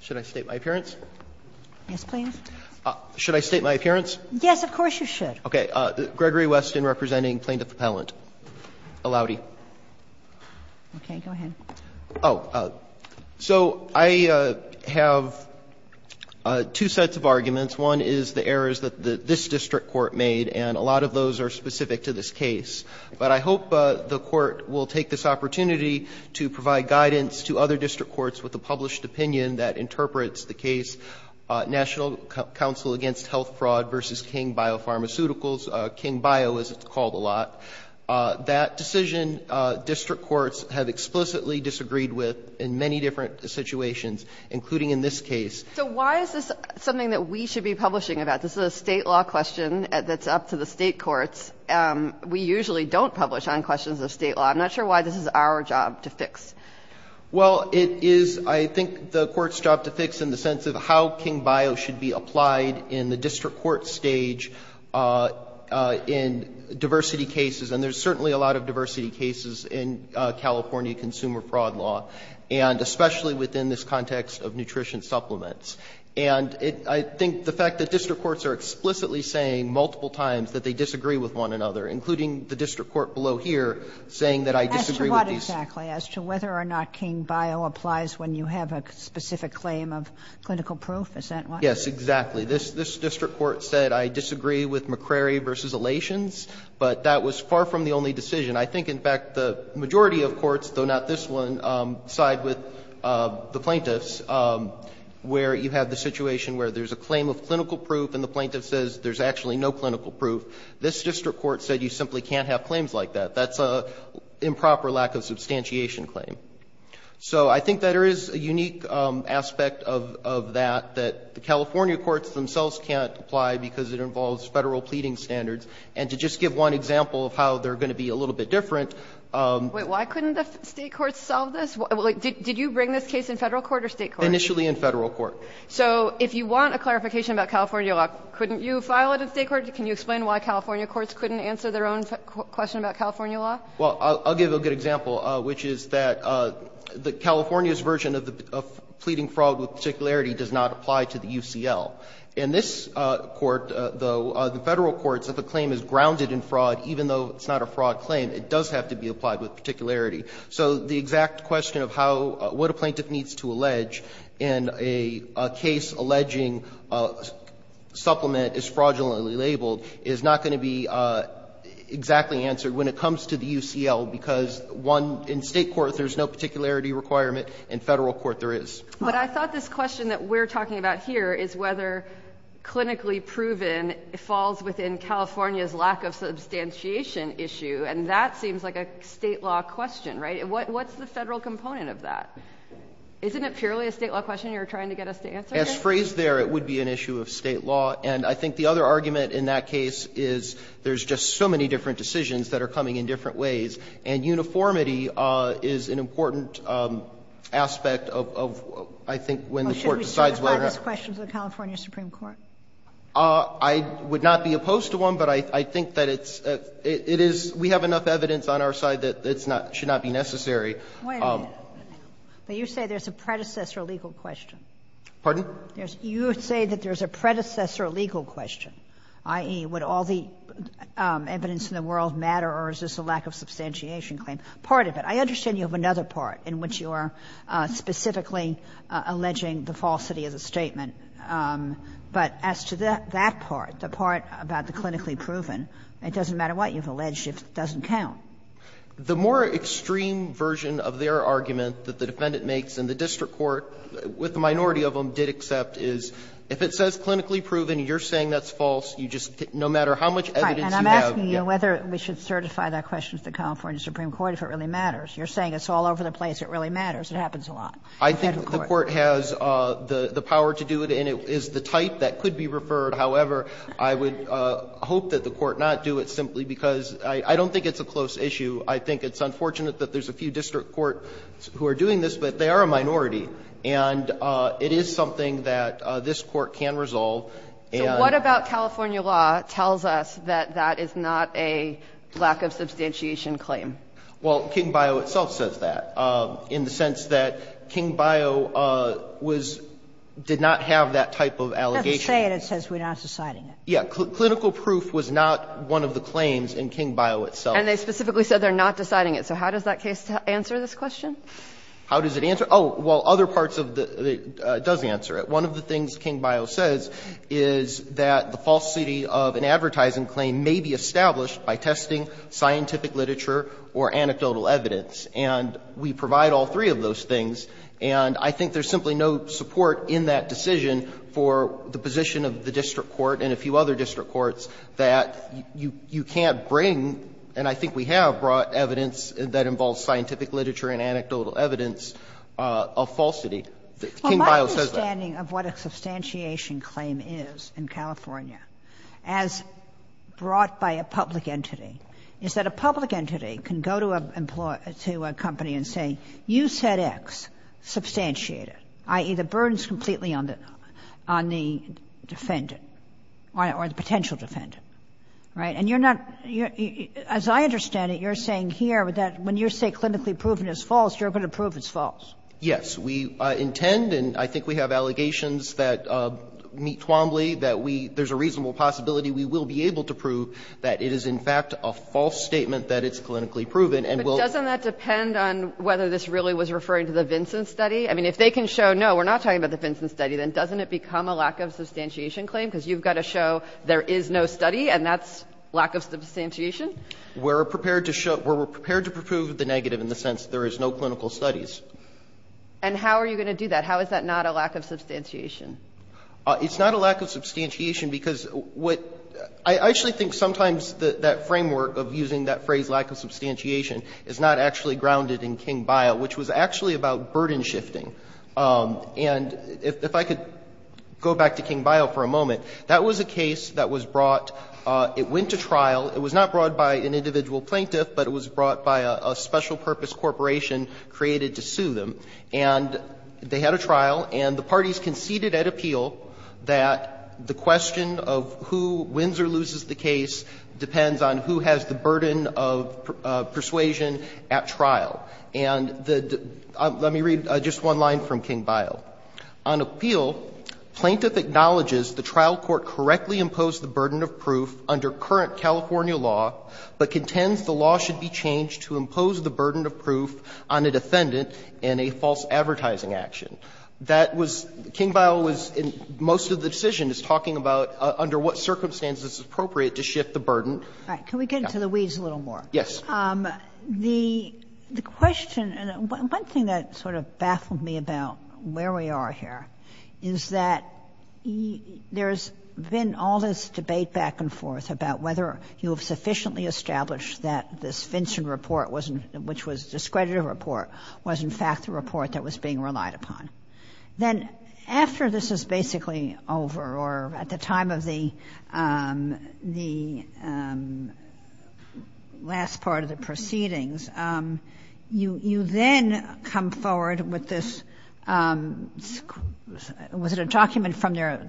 Should I state my appearance? Yes, please. Should I state my appearance? Yes, of course you should. Okay. Gregory Weston representing Plaintiff Appellant Aloudi. Okay, go ahead. Oh, so I have two sets of arguments. One is the errors that this district court made, and a lot of those are specific to this case. But I hope the court will take this opportunity to provide guidance to other district courts with a published opinion that interprets the case National Council Against Health Fraud v. King Biopharmaceuticals, King Bio as it's called a lot. That decision district courts have explicitly disagreed with in many different situations, including in this case. So why is this something that we should be publishing about? This is a state law question that's up to the state courts. We usually don't publish on questions of state law. I'm not sure why this is our job to fix. Well, it is, I think, the court's job to fix in the sense of how King Bio should be applied in the district court stage in diversity cases. And there's certainly a lot of diversity cases in California consumer fraud law, and especially within this context of nutrition supplements. And I think the fact that district courts are explicitly saying multiple times that they disagree with one another, including the district court below here, saying that I disagree with these. As to what exactly? As to whether or not King Bio applies when you have a specific claim of clinical proof? Is that what? Yes, exactly. This district court said I disagree with McCrary v. Alations, but that was far from the only decision. I think, in fact, the majority of courts, though not this one, side with the plaintiffs where you have the situation where there's a claim of clinical proof and the plaintiff says there's actually no clinical proof. This district court said you simply can't have claims like that. That's an improper lack of substantiation claim. So I think that there is a unique aspect of that, that the California courts themselves can't apply because it involves Federal pleading standards. And to just give one example of how they're going to be a little bit different. Wait. Why couldn't the State courts solve this? Did you bring this case in Federal court or State court? Initially in Federal court. So if you want a clarification about California law, couldn't you file it in State court? Can you explain why California courts couldn't answer their own question about California law? Well, I'll give a good example, which is that California's version of the pleading fraud with particularity does not apply to the UCL. In this court, though, the Federal courts, if a claim is grounded in fraud, even though it's not a fraud claim, it does have to be applied with particularity. So the exact question of how, what a plaintiff needs to allege in a case alleging supplement is fraudulently labeled is not going to be exactly answered when it comes to the UCL, because one, in State court there's no particularity requirement. In Federal court there is. But I thought this question that we're talking about here is whether clinically proven falls within California's lack of substantiation issue, and that seems like a State law question, right? What's the Federal component of that? Isn't it purely a State law question you're trying to get us to answer here? As phrased there, it would be an issue of State law. And I think the other argument in that case is there's just so many different decisions that are coming in different ways, and uniformity is an important aspect of, I think, when the Court decides whether or not. Sotomayor, should we certify this question to the California Supreme Court? I would not be opposed to one, but I think that it's, it is, we have enough evidence on our side that it's not, should not be necessary. Wait a minute. You say there's a predecessor legal question. Pardon? You say that there's a predecessor legal question, i.e., would all the evidence in the world matter, or is this a lack of substantiation claim? Part of it. I understand you have another part in which you are specifically alleging the falsity of the statement. But as to that part, the part about the clinically proven, it doesn't matter what you've alleged, it doesn't count. The more extreme version of their argument that the Defendant makes, and the district court, with a minority of them, did accept, is if it says clinically proven, you're saying that's false, you just, no matter how much evidence you have. And I'm asking you whether we should certify that question to the California Supreme Court if it really matters. You're saying it's all over the place, it really matters, it happens a lot. I think the court has the power to do it, and it is the type that could be referred. However, I would hope that the court not do it simply because I don't think it's a close issue. I think it's unfortunate that there's a few district courts who are doing this, but they are a minority, and it is something that this Court can resolve. And So what about California law tells us that that is not a lack of substantiation claim? Well, King Bio itself says that. In the sense that King Bio was, did not have that type of allegation. It doesn't say it. It says we're not deciding it. Yeah. Clinical proof was not one of the claims in King Bio itself. And they specifically said they're not deciding it. So how does that case answer this question? How does it answer? Oh, well, other parts of the, it does answer it. One of the things King Bio says is that the falsity of an advertising claim may be established by testing, scientific literature, or anecdotal evidence. And we provide all three of those things, and I think there's simply no support in that decision for the position of the district court and a few other district courts that you can't bring, and I think we have brought evidence that involves scientific literature and anecdotal evidence of falsity. King Bio says that. Well, my understanding of what a substantiation claim is in California as brought by a public entity is that a public entity can go to a company and say, you said X, substantiate it, i.e., the burden is completely on the defendant or the potential defendant. Right? And you're not, as I understand it, you're saying here that when you say clinically proven is false, you're going to prove it's false. Yes. We intend, and I think we have allegations that meet Twombly, that we, there's a reasonable possibility we will be able to prove that it is, in fact, a false statement that it's clinically proven and will. But doesn't that depend on whether this really was referring to the Vinson study? I mean, if they can show, no, we're not talking about the Vinson study, then doesn't it become a lack of substantiation claim, because you've got to show there is no study and that's lack of substantiation? We're prepared to show, we're prepared to prove the negative in the sense there is no clinical studies. And how are you going to do that? How is that not a lack of substantiation? It's not a lack of substantiation because what, I actually think sometimes that framework of using that phrase lack of substantiation is not actually grounded in King Bio, which was actually about burden shifting. And if I could go back to King Bio for a moment, that was a case that was brought to trial, it was not brought by an individual plaintiff, but it was brought by a special purpose corporation created to sue them. And they had a trial and the parties conceded at appeal that the question of who wins or loses the case depends on who has the burden of persuasion at trial. And let me read just one line from King Bio. On appeal, plaintiff acknowledges the trial court correctly imposed the burden of proof under current California law, but contends the law should be changed to impose the burden of proof on a defendant in a false advertising action. That was, King Bio was, most of the decision is talking about under what circumstances it's appropriate to shift the burden. All right. Can we get into the weeds a little more? Yes. The question, one thing that sort of baffled me about where we are here is that there's been all this debate back and forth about whether you have sufficiently established that this Vincent report, which was a discredited report, was in fact the report that was being relied upon. Then after this is basically over or at the time of the last part of the proceedings, you then come forward with this, was it a document from their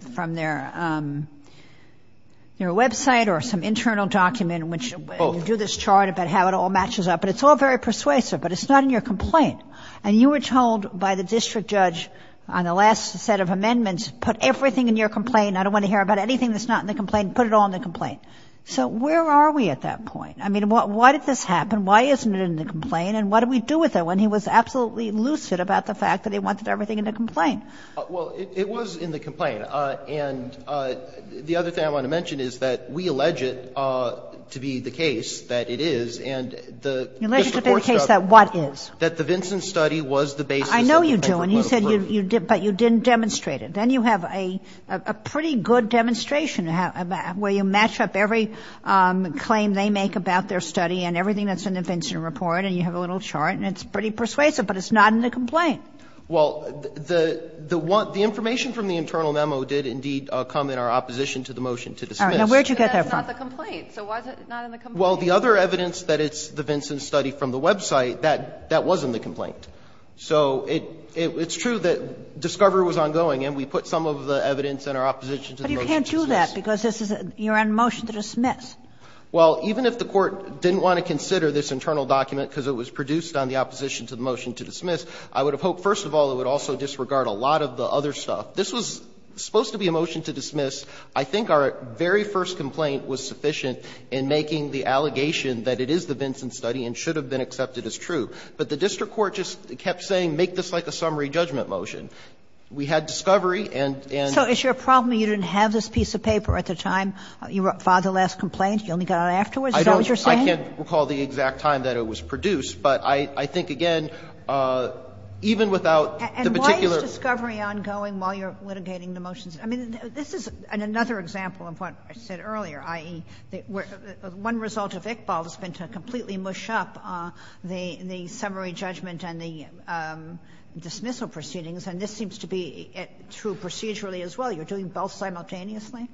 website or some internal document in which you do this chart about how it all matches up, but it's all very persuasive, but it's not in your complaint. And you were told by the district judge on the last set of amendments, put everything in your complaint. I don't want to hear about anything that's not in the complaint. Put it all in the complaint. So where are we at that point? I mean, why did this happen? Why isn't it in the complaint? And what do we do with it when he was absolutely lucid about the fact that he wanted everything in the complaint? Well, it was in the complaint. And the other thing I want to mention is that we allege it to be the case that it is and the district court struck it. You allege it to be the case that what is? That the Vinson study was the basis of the record. I know you do, and you said you did, but you didn't demonstrate it. Then you have a pretty good demonstration where you match up every claim they make about their study and everything that's in the Vinson report, and you have a little chart, and it's pretty persuasive, but it's not in the complaint. Well, the information from the internal memo did indeed come in our opposition to the motion to dismiss. All right. Now, where did you get that from? But that's not the complaint. So why is it not in the complaint? Well, the other evidence that it's the Vinson study from the website, that wasn't the complaint. So it's true that discovery was ongoing, and we put some of the evidence in our opposition to the motion to dismiss. But you can't do that, because you're on a motion to dismiss. Well, even if the Court didn't want to consider this internal document because it was produced on the opposition to the motion to dismiss, I would have hoped, first of all, it would also disregard a lot of the other stuff. This was supposed to be a motion to dismiss. I think our very first complaint was sufficient in making the allegation that it is the Vinson study and should have been accepted as true. But the district court just kept saying, make this like a summary judgment motion. We had discovery and then we had a motion to dismiss. So is your problem you didn't have this piece of paper at the time you filed the last complaint? You only got it afterwards? Is that what you're saying? I don't know. I can't recall the exact time that it was produced. But I think, again, even without the particular ---- And why is discovery ongoing while you're litigating the motions? I mean, this is another example of what I said earlier, i.e., one result of Iqbal's been to completely mush up the summary judgment and the dismissal proceedings, and this seems to be true procedurally as well. You're doing both simultaneously?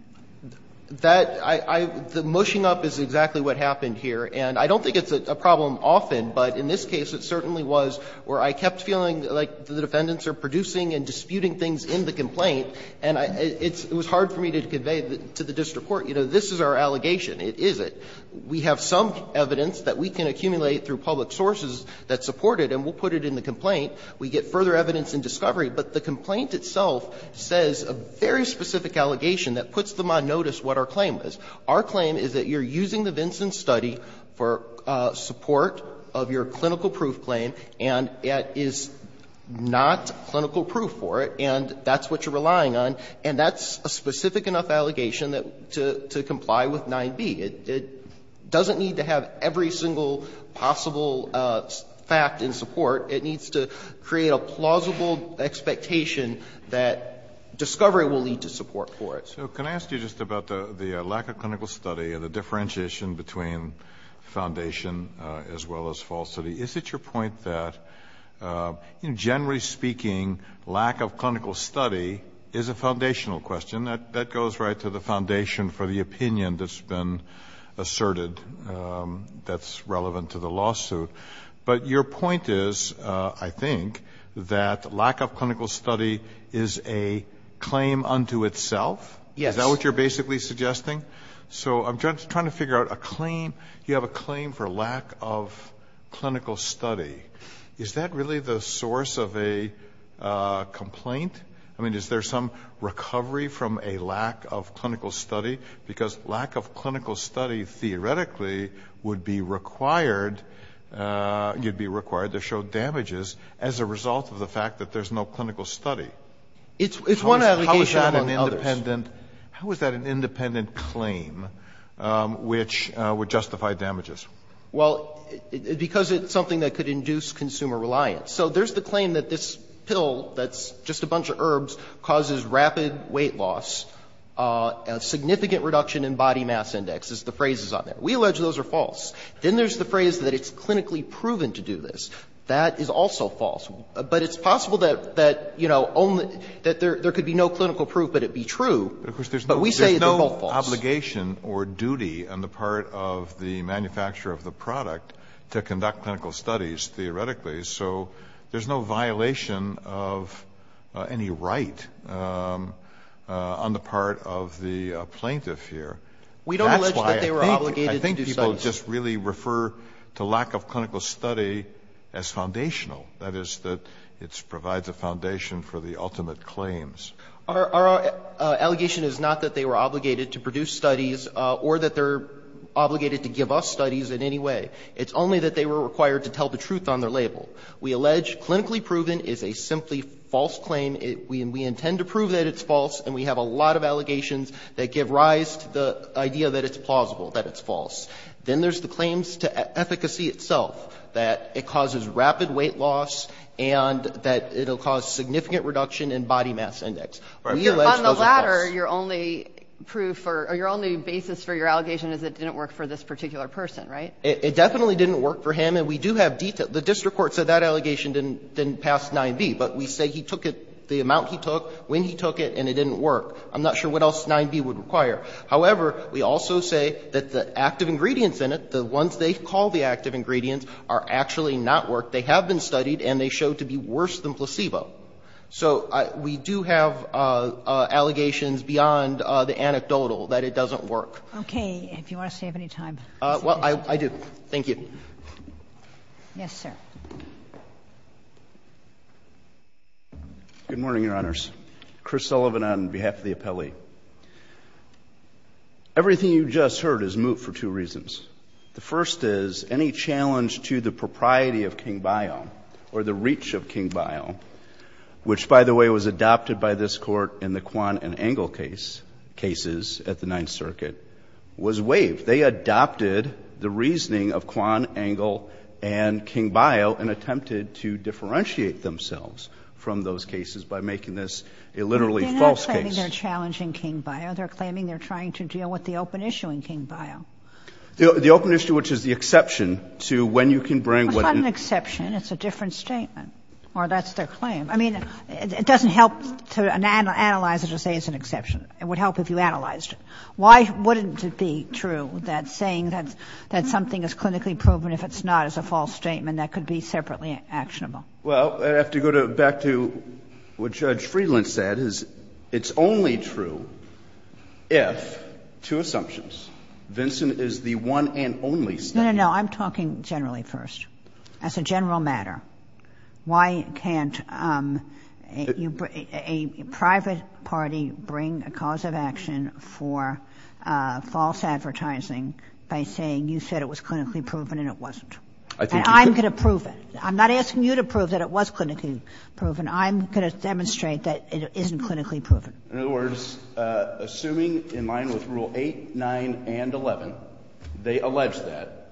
That ---- I ---- the mushing up is exactly what happened here. And I don't think it's a problem often, but in this case it certainly was where I kept feeling like the defendants are producing and disputing things in the complaint, and I ---- it was hard for me to convey to the district court, you know, this is our allegation, it is it. We have some evidence that we can accumulate through public sources that support it, and we'll put it in the complaint. We get further evidence in discovery. But the complaint itself says a very specific allegation that puts them on notice what our claim is. Our claim is that you're using the Vinson study for support of your clinical-proof claim, and it is not clinical-proof for it, and that's what you're relying on. And that's a specific enough allegation that to comply with 9b. It doesn't need to have every single possible fact in support. It needs to create a plausible expectation that discovery will lead to support for it. Kennedy. So can I ask you just about the lack of clinical study and the differentiation between Foundation as well as falsity? Is it your point that, you know, generally speaking, lack of clinical study is a foundational question? That goes right to the foundation for the opinion that's been asserted that's relevant to the lawsuit. But your point is, I think, that lack of clinical study is a claim unto itself? Yes. Is that what you're basically suggesting? So I'm just trying to figure out a claim. You have a claim for lack of clinical study. Is that really the source of a complaint? I mean, is there some recovery from a lack of clinical study? Because lack of clinical study, theoretically, would be required to show damages as a result of the fact that there's no clinical study. It's one allegation among others. How is that an independent claim which would justify damages? Well, because it's something that could induce consumer reliance. So there's the claim that this pill that's just a bunch of herbs causes rapid weight loss, a significant reduction in body mass index is the phrase that's on there. We allege those are false. Then there's the phrase that it's clinically proven to do this. That is also false. But it's possible that there could be no clinical proof, but it be true. But we say they're both false. There's no obligation or duty on the part of the manufacturer of the product to conduct clinical studies, theoretically. So there's no violation of any right on the part of the plaintiff here. We don't allege that they were obligated to do studies. I think people just really refer to lack of clinical study as foundational. That is that it provides a foundation for the ultimate claims. Our allegation is not that they were obligated to produce studies or that they're obligated to give us studies in any way. It's only that they were required to tell the truth on their label. We allege clinically proven is a simply false claim. We intend to prove that it's false, and we have a lot of allegations that give rise to the idea that it's plausible, that it's false. Then there's the claims to efficacy itself, that it causes rapid weight loss and that it'll cause significant reduction in body mass index. We allege those are false. On the latter, your only proof or your only basis for your allegation is it didn't work for this particular person, right? It definitely didn't work for him, and we do have detail. The district court said that allegation didn't pass 9b, but we say he took it, the amount he took, when he took it, and it didn't work. I'm not sure what else 9b would require. However, we also say that the active ingredients in it, the ones they call the active ingredients, are actually not worked. They have been studied, and they show to be worse than placebo. So we do have allegations beyond the anecdotal that it doesn't work. Okay. If you want to save any time. Well, I do. Thank you. Yes, sir. Good morning, Your Honors. Chris Sullivan on behalf of the appellee. Everything you just heard is moot for two reasons. The first is any challenge to the propriety of King-Bio or the reach of King-Bio, which, by the way, was adopted by this Court in the Quan and Engel cases at the Ninth Circuit, was waived. They adopted the reasoning of Quan, Engel, and King-Bio and attempted to differentiate the two. The second reason is that they are trying to deal with the open issue in King-Bio. The open issue, which is the exception to when you can bring what an exception, it's a different statement, or that's their claim. I mean, it doesn't help to analyze it to say it's an exception. It would help if you analyzed it. Why wouldn't it be true that saying that something is clinically proven, if it's not, is a false statement that could be separately actionable? Well, I'd have to go back to what Judge Friedland said, is it's only true if, two assumptions, Vincent is the one and only statement. No, no, no. I'm talking generally first, as a general matter. Why can't a private party bring a cause of action for false advertising by saying you said it was clinically proven and it wasn't? I think you could. And I'm going to prove it. I'm not asking you to prove that it was clinically proven. I'm going to demonstrate that it isn't clinically proven. In other words, assuming in line with Rule 8, 9, and 11, they allege that,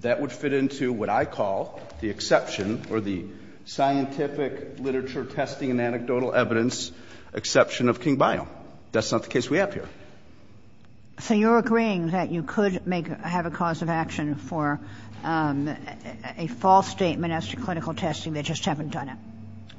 that would fit into what I call the exception or the scientific literature testing and anecdotal evidence exception of King-Bio. That's not the case we have here. So you're agreeing that you could make, have a cause of action for a false statement as to clinical testing, they just haven't done it?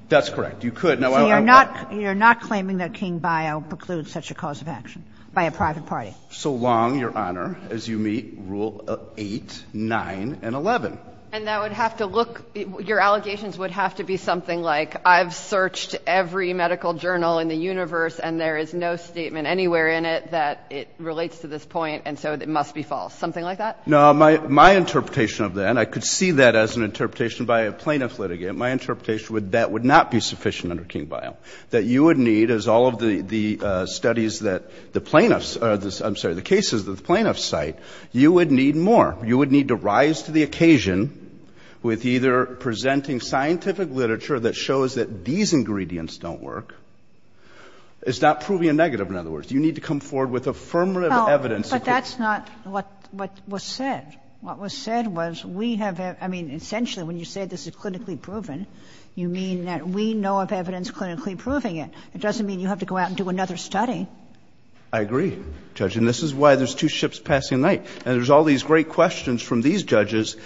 That's correct. You could. So you're not, you're not claiming that King-Bio precludes such a cause of action by a private party? So long, Your Honor, as you meet Rule 8, 9, and 11. And that would have to look, your allegations would have to be something like, I've searched every medical journal in the universe and there is no statement anywhere in it that it relates to this point and so it must be false. Something like that? No, my, my interpretation of that, and I could see that as an interpretation by a plaintiff litigant, my interpretation would, that would not be sufficient under King-Bio. That you would need, as all of the, the studies that the plaintiffs, I'm sorry, the cases that the plaintiffs cite, you would need more. You would need to rise to the occasion with either presenting scientific literature that shows that these ingredients don't work. It's not proving a negative, in other words. You need to come forward with affirmative evidence. But that's not what, what was said. What was said was we have, I mean, essentially when you say this is clinically proven, you mean that we know of evidence clinically proving it. It doesn't mean you have to go out and do another study. I agree, Judge. And this is why there's two ships passing night. And there's all these great questions from these judges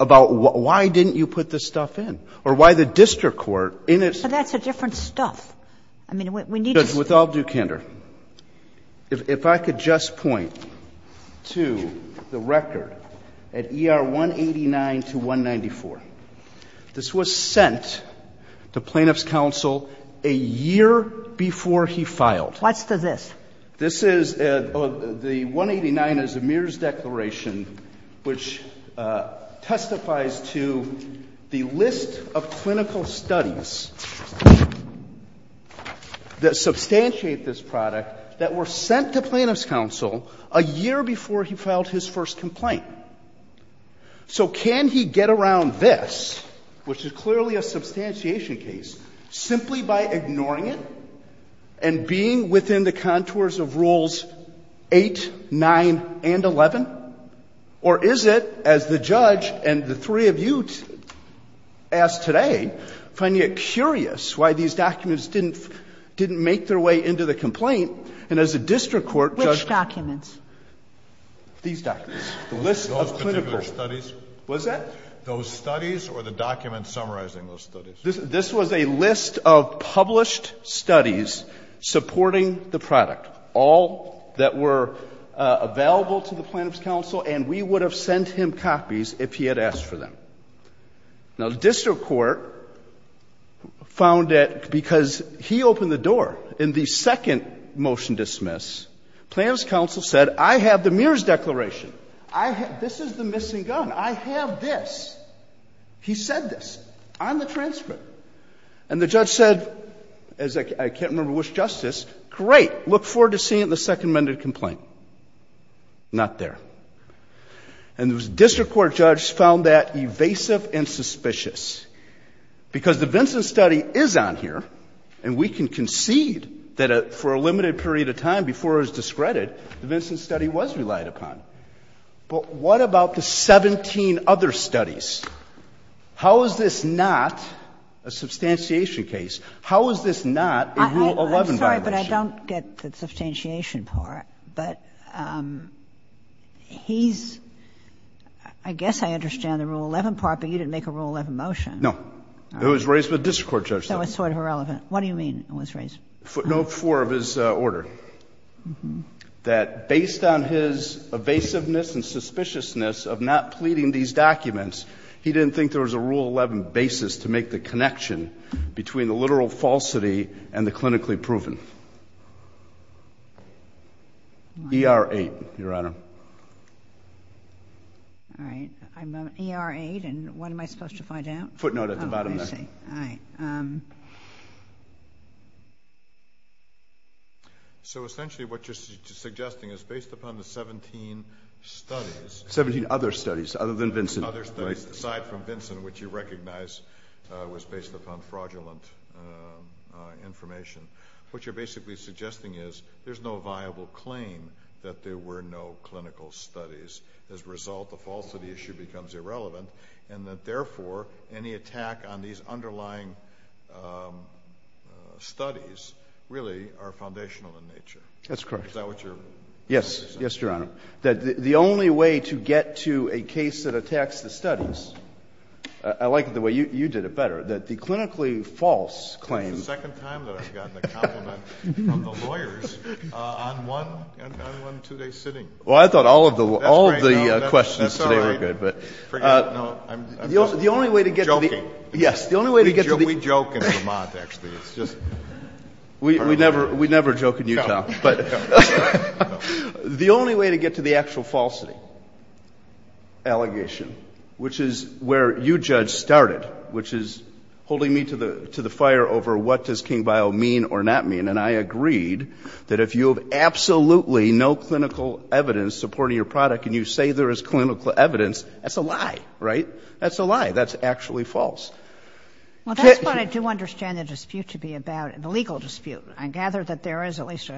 about why didn't you put this stuff in or why the district court in its. So that's a different stuff. I mean, we need to. With all due candor, if I could just point to the record at ER 189 to 194. This was sent to plaintiff's counsel a year before he filed. What's the this? This is, the 189 is Amir's declaration, which testifies to the list of clinical studies that substantiate this product that were sent to plaintiff's counsel a year before he filed his first complaint. So can he get around this, which is clearly a substantiation case, simply by ignoring it and being within the contours of rules 8, 9, and 11? Or is it, as the judge and the three of you asked today, finding it curious why these documents didn't make their way into the complaint, and as a district court, Judge Kagan. Which documents? These documents. The list of clinical. Those particular studies. What is that? Those studies or the documents summarizing those studies. This was a list of published studies supporting the product. All that were available to the plaintiff's counsel, and we would have sent him copies if he had asked for them. Now, the district court found that because he opened the door in the second motion dismiss, plaintiff's counsel said, I have the Amir's declaration. I have, this is the missing gun. I have this. He said this on the transcript. And the judge said, as I can't remember which justice, great. Look forward to seeing it in the second amended complaint. Not there. And the district court judge found that evasive and suspicious. Because the Vincent study is on here, and we can concede that for a limited period of time before it was discredited, the Vincent study was relied upon. But what about the 17 other studies? How is this not a substantiation case? How is this not a Rule 11 violation? Kagan. I'm sorry, but I don't get the substantiation part. But he's, I guess I understand the Rule 11 part, but you didn't make a Rule 11 motion. No. It was raised with the district court judge. That was sort of irrelevant. What do you mean it was raised? Note four of his order. That based on his evasiveness and suspiciousness of not pleading these documents, he didn't think there was a Rule 11 basis to make the connection between the literal falsity and the clinically proven. ER8, Your Honor. All right. I'm on ER8, and what am I supposed to find out? Footnote at the bottom there. Oh, I see. All right. So essentially what you're suggesting is based upon the 17 studies. 17 other studies other than Vincent. Other studies aside from Vincent, which you recognize was based upon fraudulent information. What you're basically suggesting is there's no viable claim that there were no clinical studies. As a result, the falsity issue becomes irrelevant, and that therefore, any attack on these underlying studies really are foundational in nature. That's correct. Is that what you're saying? Yes. Yes, Your Honor. That the only way to get to a case that attacks the studies, I like it the way you did it better, that the clinically false claim. That's the second time that I've gotten a compliment from the lawyers on one two-day sitting. Well, I thought all of the questions today were good, but the only way to get to the. Joking. Yes, the only way to get to the. We joke in Vermont, actually. It's just. We never joke in Utah, but the only way to get to the actual falsity allegation, which is where you judge started, which is holding me to the fire over what does King Bio mean or not mean. And I agreed that if you have absolutely no clinical evidence supporting your product and you say there is clinical evidence, that's a lie, right? That's a lie. That's actually false. Well, that's what I do understand the dispute to be about, the legal dispute. I gather that there is at least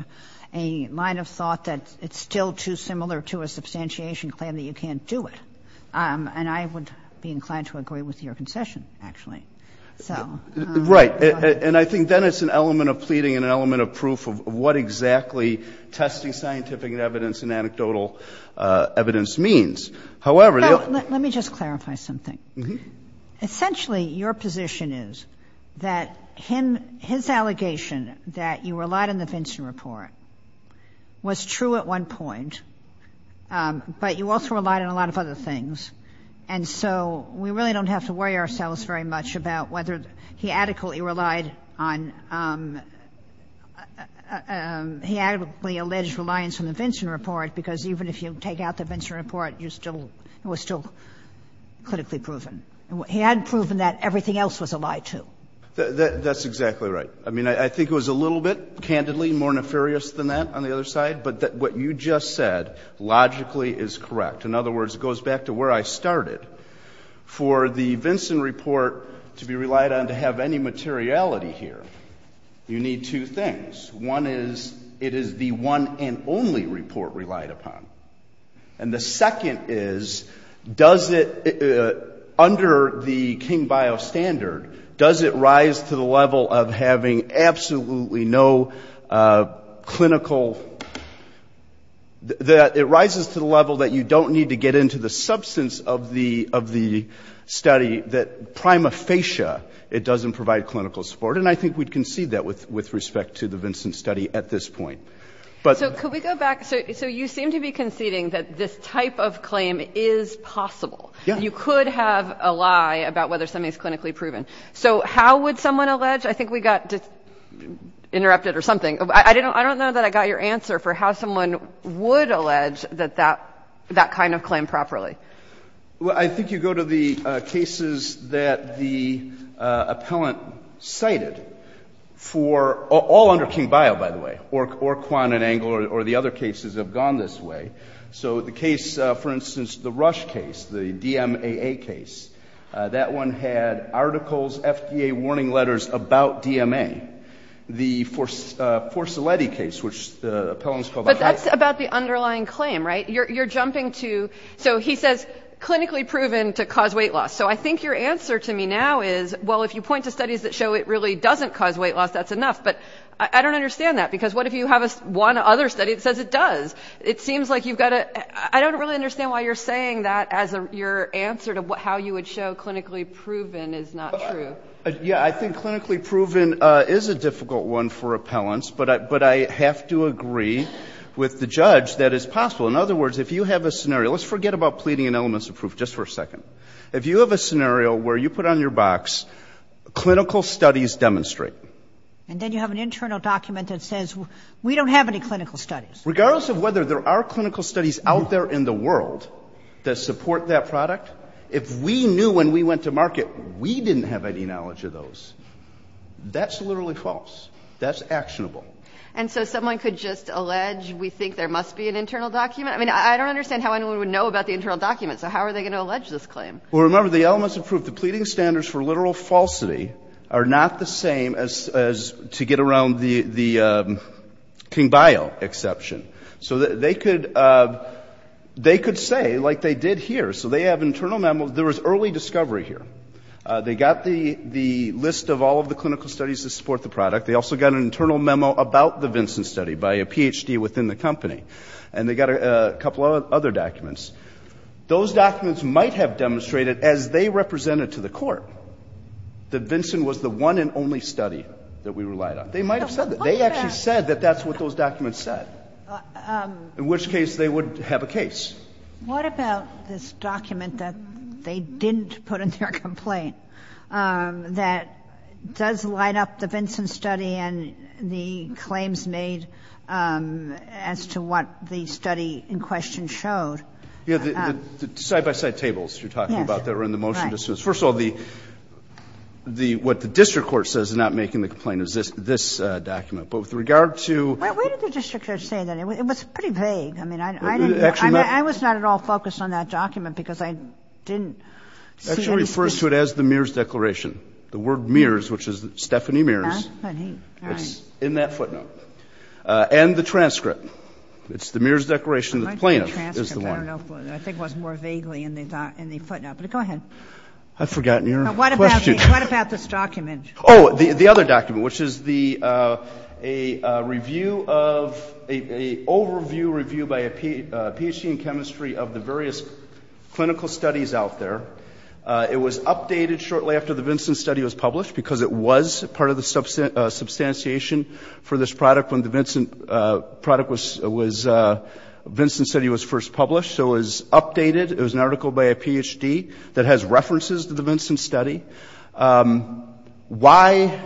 a line of thought that it's still too similar to a substantiation claim that you can't do it. So right. And I think then it's an element of pleading and an element of proof of what exactly testing scientific evidence and anecdotal evidence means. However, let me just clarify something. Essentially, your position is that him, his allegation that you relied on the Vincent report was true at one point, but you also relied on a lot of other things. And so we really don't have to worry ourselves very much about whether he adequately relied on, he adequately alleged reliance on the Vincent report, because even if you take out the Vincent report, you still, it was still clinically proven. He had proven that everything else was a lie, too. That's exactly right. I mean, I think it was a little bit candidly more nefarious than that on the other side, but what you just said logically is correct. In other words, it goes back to where I started. For the Vincent report to be relied on to have any materiality here, you need two things. One is, it is the one and only report relied upon. And the second is, does it, under the King Bio standard, does it rise to the level of having absolutely no clinical, that it rises to the level that you don't need to get into the substance of the study that prima facie it doesn't provide clinical support? And I think we'd concede that with respect to the Vincent study at this point. So could we go back? So you seem to be conceding that this type of claim is possible. You could have a lie about whether something is clinically proven. So how would someone allege, I think we got interrupted or something. I don't know that I got your answer for how someone would allege that that kind of claim properly. Well, I think you go to the cases that the appellant cited for all under King Bio, by the way, or Kwan and Engle or the other cases have gone this way. So the case, for instance, the Rush case, the DMAA case, that one had articles, FDA warning letters about DMA. The Forcelletti case, which the appellant's called. But that's about the underlying claim, right? You're jumping to, so he says clinically proven to cause weight loss. So I think your answer to me now is, well, if you point to studies that show it really doesn't cause weight loss, that's enough. But I don't understand that, because what if you have one other study that says it does? It seems like you've got to, I don't really understand why you're saying that as your answer to how you would show clinically proven is not true. Yeah, I think clinically proven is a difficult one for appellants, but I have to agree with the judge that it's possible. In other words, if you have a scenario, let's forget about pleading and elements of proof just for a second. If you have a scenario where you put on your box clinical studies demonstrate. And then you have an internal document that says we don't have any clinical studies. Regardless of whether there are clinical studies out there in the world that support that product, if we knew when we went to market we didn't have any knowledge of those, that's literally false. That's actionable. And so someone could just allege we think there must be an internal document? I mean, I don't understand how anyone would know about the internal document. So how are they going to allege this claim? Well, remember, the elements of proof, the pleading standards for literal falsity are not the same as to get around the King-Bio exception. So they could say, like they did here, so they have internal memos. There was early discovery here. They got the list of all of the clinical studies that support the product. They also got an internal memo about the Vinson study by a Ph.D. within the company. And they got a couple of other documents. Those documents might have demonstrated, as they represented to the Court, that Vinson was the one and only study that we relied on. They might have said that. They actually said that that's what those documents said. In which case, they would have a case. What about this document that they didn't put in their complaint that does light up the Vinson study and the claims made as to what the study in question showed? Yeah, the side-by-side tables you're talking about that were in the motion to dismiss. First of all, the – what the district court says is not making the complaint But with regard to the – Where did the district court say that? It was pretty vague. I mean, I didn't – I was not at all focused on that document because I didn't see it. It actually refers to it as the Mears Declaration. The word Mears, which is Stephanie Mears, is in that footnote. And the transcript. It's the Mears Declaration that the plaintiff is the one. I think it was more vaguely in the footnote. But go ahead. I've forgotten your question. What about this document? Oh, the other document, which is the – a review of – a overview review by a Ph.D. in chemistry of the various clinical studies out there. It was updated shortly after the Vinson study was published because it was part of the substantiation for this product when the Vinson study was first published. So it was updated. It was an article by a Ph.D. that has references to the Vinson study. Why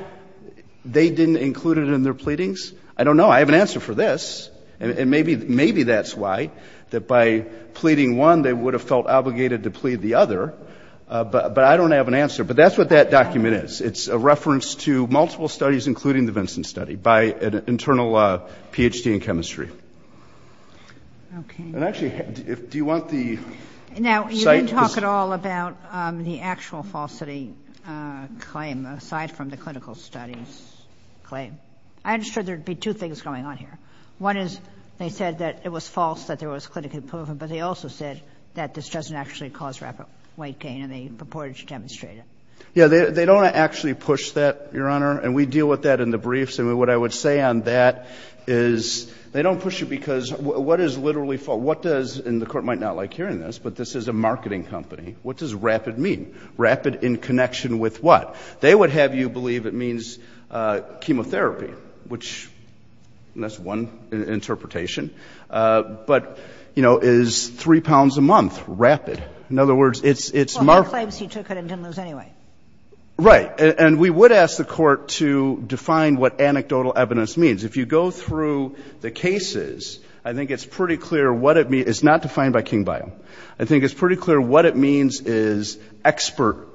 they didn't include it in their pleadings, I don't know. I have an answer for this. And maybe that's why, that by pleading one, they would have felt obligated to plead the other. But I don't have an answer. But that's what that document is. It's a reference to multiple studies, including the Vinson study, by an internal Ph.D. in chemistry. Okay. And actually, do you want the site? Now, you didn't talk at all about the actual falsity claim, aside from the clinical studies claim. I understood there would be two things going on here. One is they said that it was false, that there was clinically proven. But they also said that this doesn't actually cause rapid weight gain, and they purported to demonstrate it. Yeah. They don't actually push that, Your Honor. And we deal with that in the briefs. And what I would say on that is they don't push it because what is literally – what does – and the Court might not like hearing this. But this is a marketing company. What does rapid mean? Rapid in connection with what? They would have you believe it means chemotherapy, which – and that's one interpretation. But, you know, is three pounds a month rapid? In other words, it's – Well, there are claims he took it and didn't lose anyway. Right. And we would ask the Court to define what anecdotal evidence means. If you go through the cases, I think it's pretty clear what it means. It's not defined by Kingbio. I think it's pretty clear what it means is expert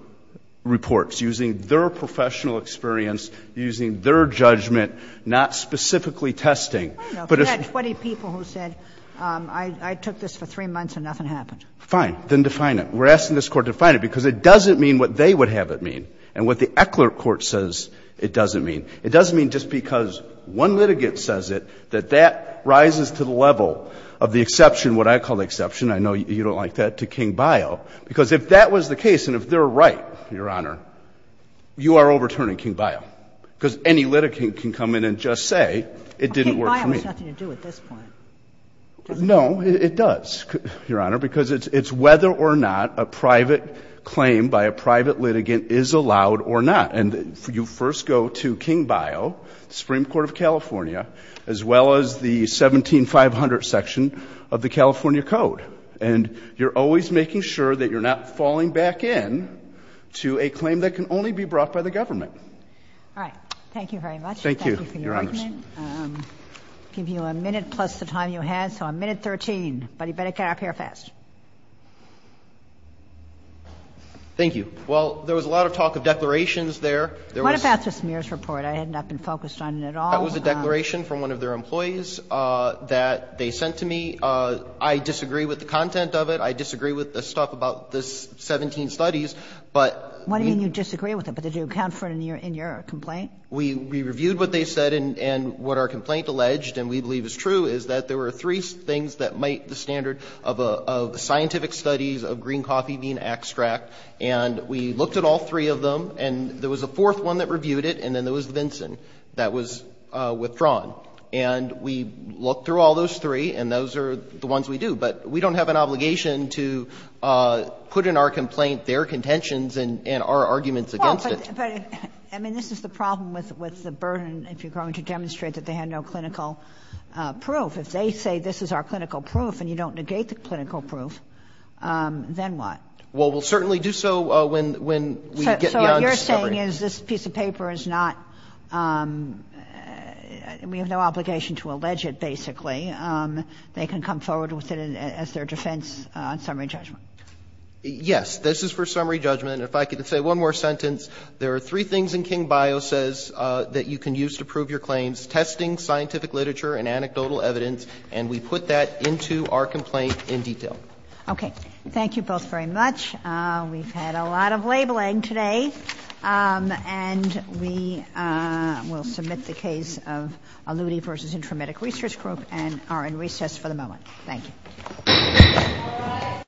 reports using their professional experience, using their judgment, not specifically testing. But if you had 20 people who said, I took this for three months and nothing happened. Fine. Then define it. We're asking this Court to define it, because it doesn't mean what they would have it mean. And what the Eckler court says it doesn't mean. It doesn't mean just because one litigant says it that that rises to the level of the exception, what I call the exception. I know you don't like that, to Kingbio. Because if that was the case and if they're right, Your Honor, you are overturning Kingbio, because any litigant can come in and just say it didn't work for me. Kingbio has nothing to do with this point. No, it does, Your Honor, because it's whether or not a private claim by a private litigant is allowed or not. And you first go to Kingbio, the Supreme Court of California, as well as the 17500 section of the California Code. And you're always making sure that you're not falling back in to a claim that can only be brought by the government. All right. Thank you very much. Thank you, Your Honor. I'll give you a minute plus the time you had, so a minute 13. But you better get out of here fast. Thank you. Well, there was a lot of talk of declarations there. There was a declaration from one of their employees that they sent to me. I disagree with the content of it. I disagree with the stuff about the 17 studies. But we — What do you mean you disagree with it? But did you account for it in your complaint? We reviewed what they said and what our complaint alleged, and we believe is true, is that there were three things that meet the standard of scientific studies of green coffee being extract. And we looked at all three of them, and there was a fourth one that reviewed it, and then there was Vinson that was withdrawn. And we looked through all those three, and those are the ones we do. But we don't have an obligation to put in our complaint their contentions and our arguments against it. Well, but, I mean, this is the problem with the burden if you're going to demonstrate that they had no clinical proof. If they say this is our clinical proof and you don't negate the clinical proof, then what? Well, we'll certainly do so when we get beyond discovery. The thing is, this piece of paper is not — we have no obligation to allege it, basically. They can come forward with it as their defense on summary judgment. Yes. This is for summary judgment. If I could say one more sentence. There are three things in King-Bio says that you can use to prove your claims, testing, scientific literature and anecdotal evidence, and we put that into our complaint in detail. Okay. Thank you both very much. We've had a lot of labeling today. And we will submit the case of Aludi v. Intramedic Research Group and are in recess for the moment. Thank you.